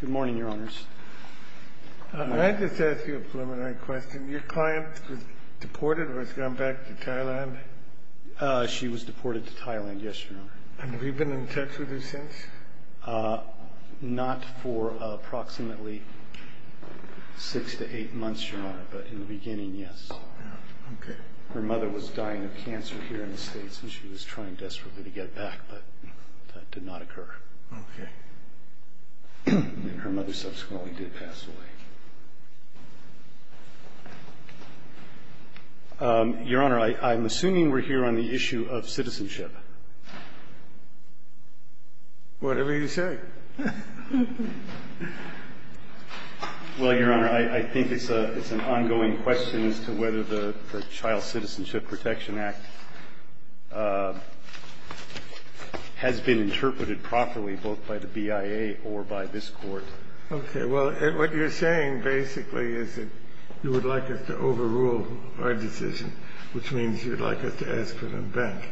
Good morning, Your Honors. May I just ask you a preliminary question? Your client was deported or has gone back to Thailand? She was deported to Thailand, yes, Your Honor. And have you been in touch with her since? Not for approximately six to eight months, Your Honor, but in the beginning, yes. Okay. Her mother was dying of cancer here in the States, and she was trying desperately to get it back, but that did not occur. Okay. And her mother subsequently did pass away. Your Honor, I'm assuming we're here on the issue of citizenship. Whatever you say. Well, Your Honor, I think it's an ongoing question as to whether the Child Citizenship Protection Act has been interpreted properly both by the BIA or by this Court. Okay. Well, what you're saying basically is that you would like us to overrule our decision, which means you'd like us to ask for them back.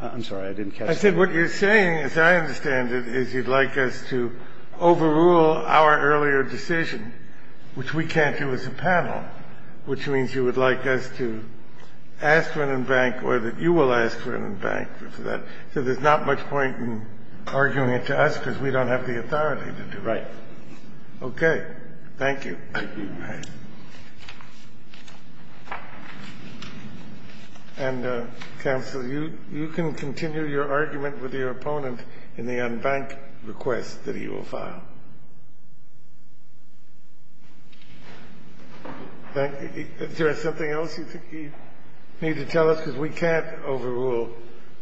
I'm sorry. I didn't catch that. I said what you're saying, as I understand it, is you'd like us to overrule our earlier decision, which we can't do as a panel, which means you would like us to ask for it in bank or that you will ask for it in bank. So there's not much point in arguing it to us because we don't have the authority to do it. Right. Okay. Thank you. Thank you. And, Counsel, you can continue your argument with your opponent in the unbanked request that he will file. Thank you. Is there something else you think you need to tell us? Because we can't overrule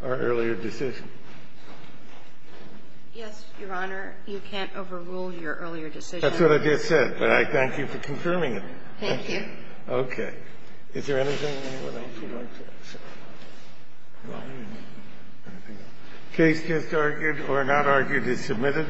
our earlier decision. Yes, Your Honor. You can't overrule your earlier decision. That's what I just said, but I thank you for confirming it. Thank you. Okay. Is there anything else you'd like to add? Case just argued or not argued is submitted.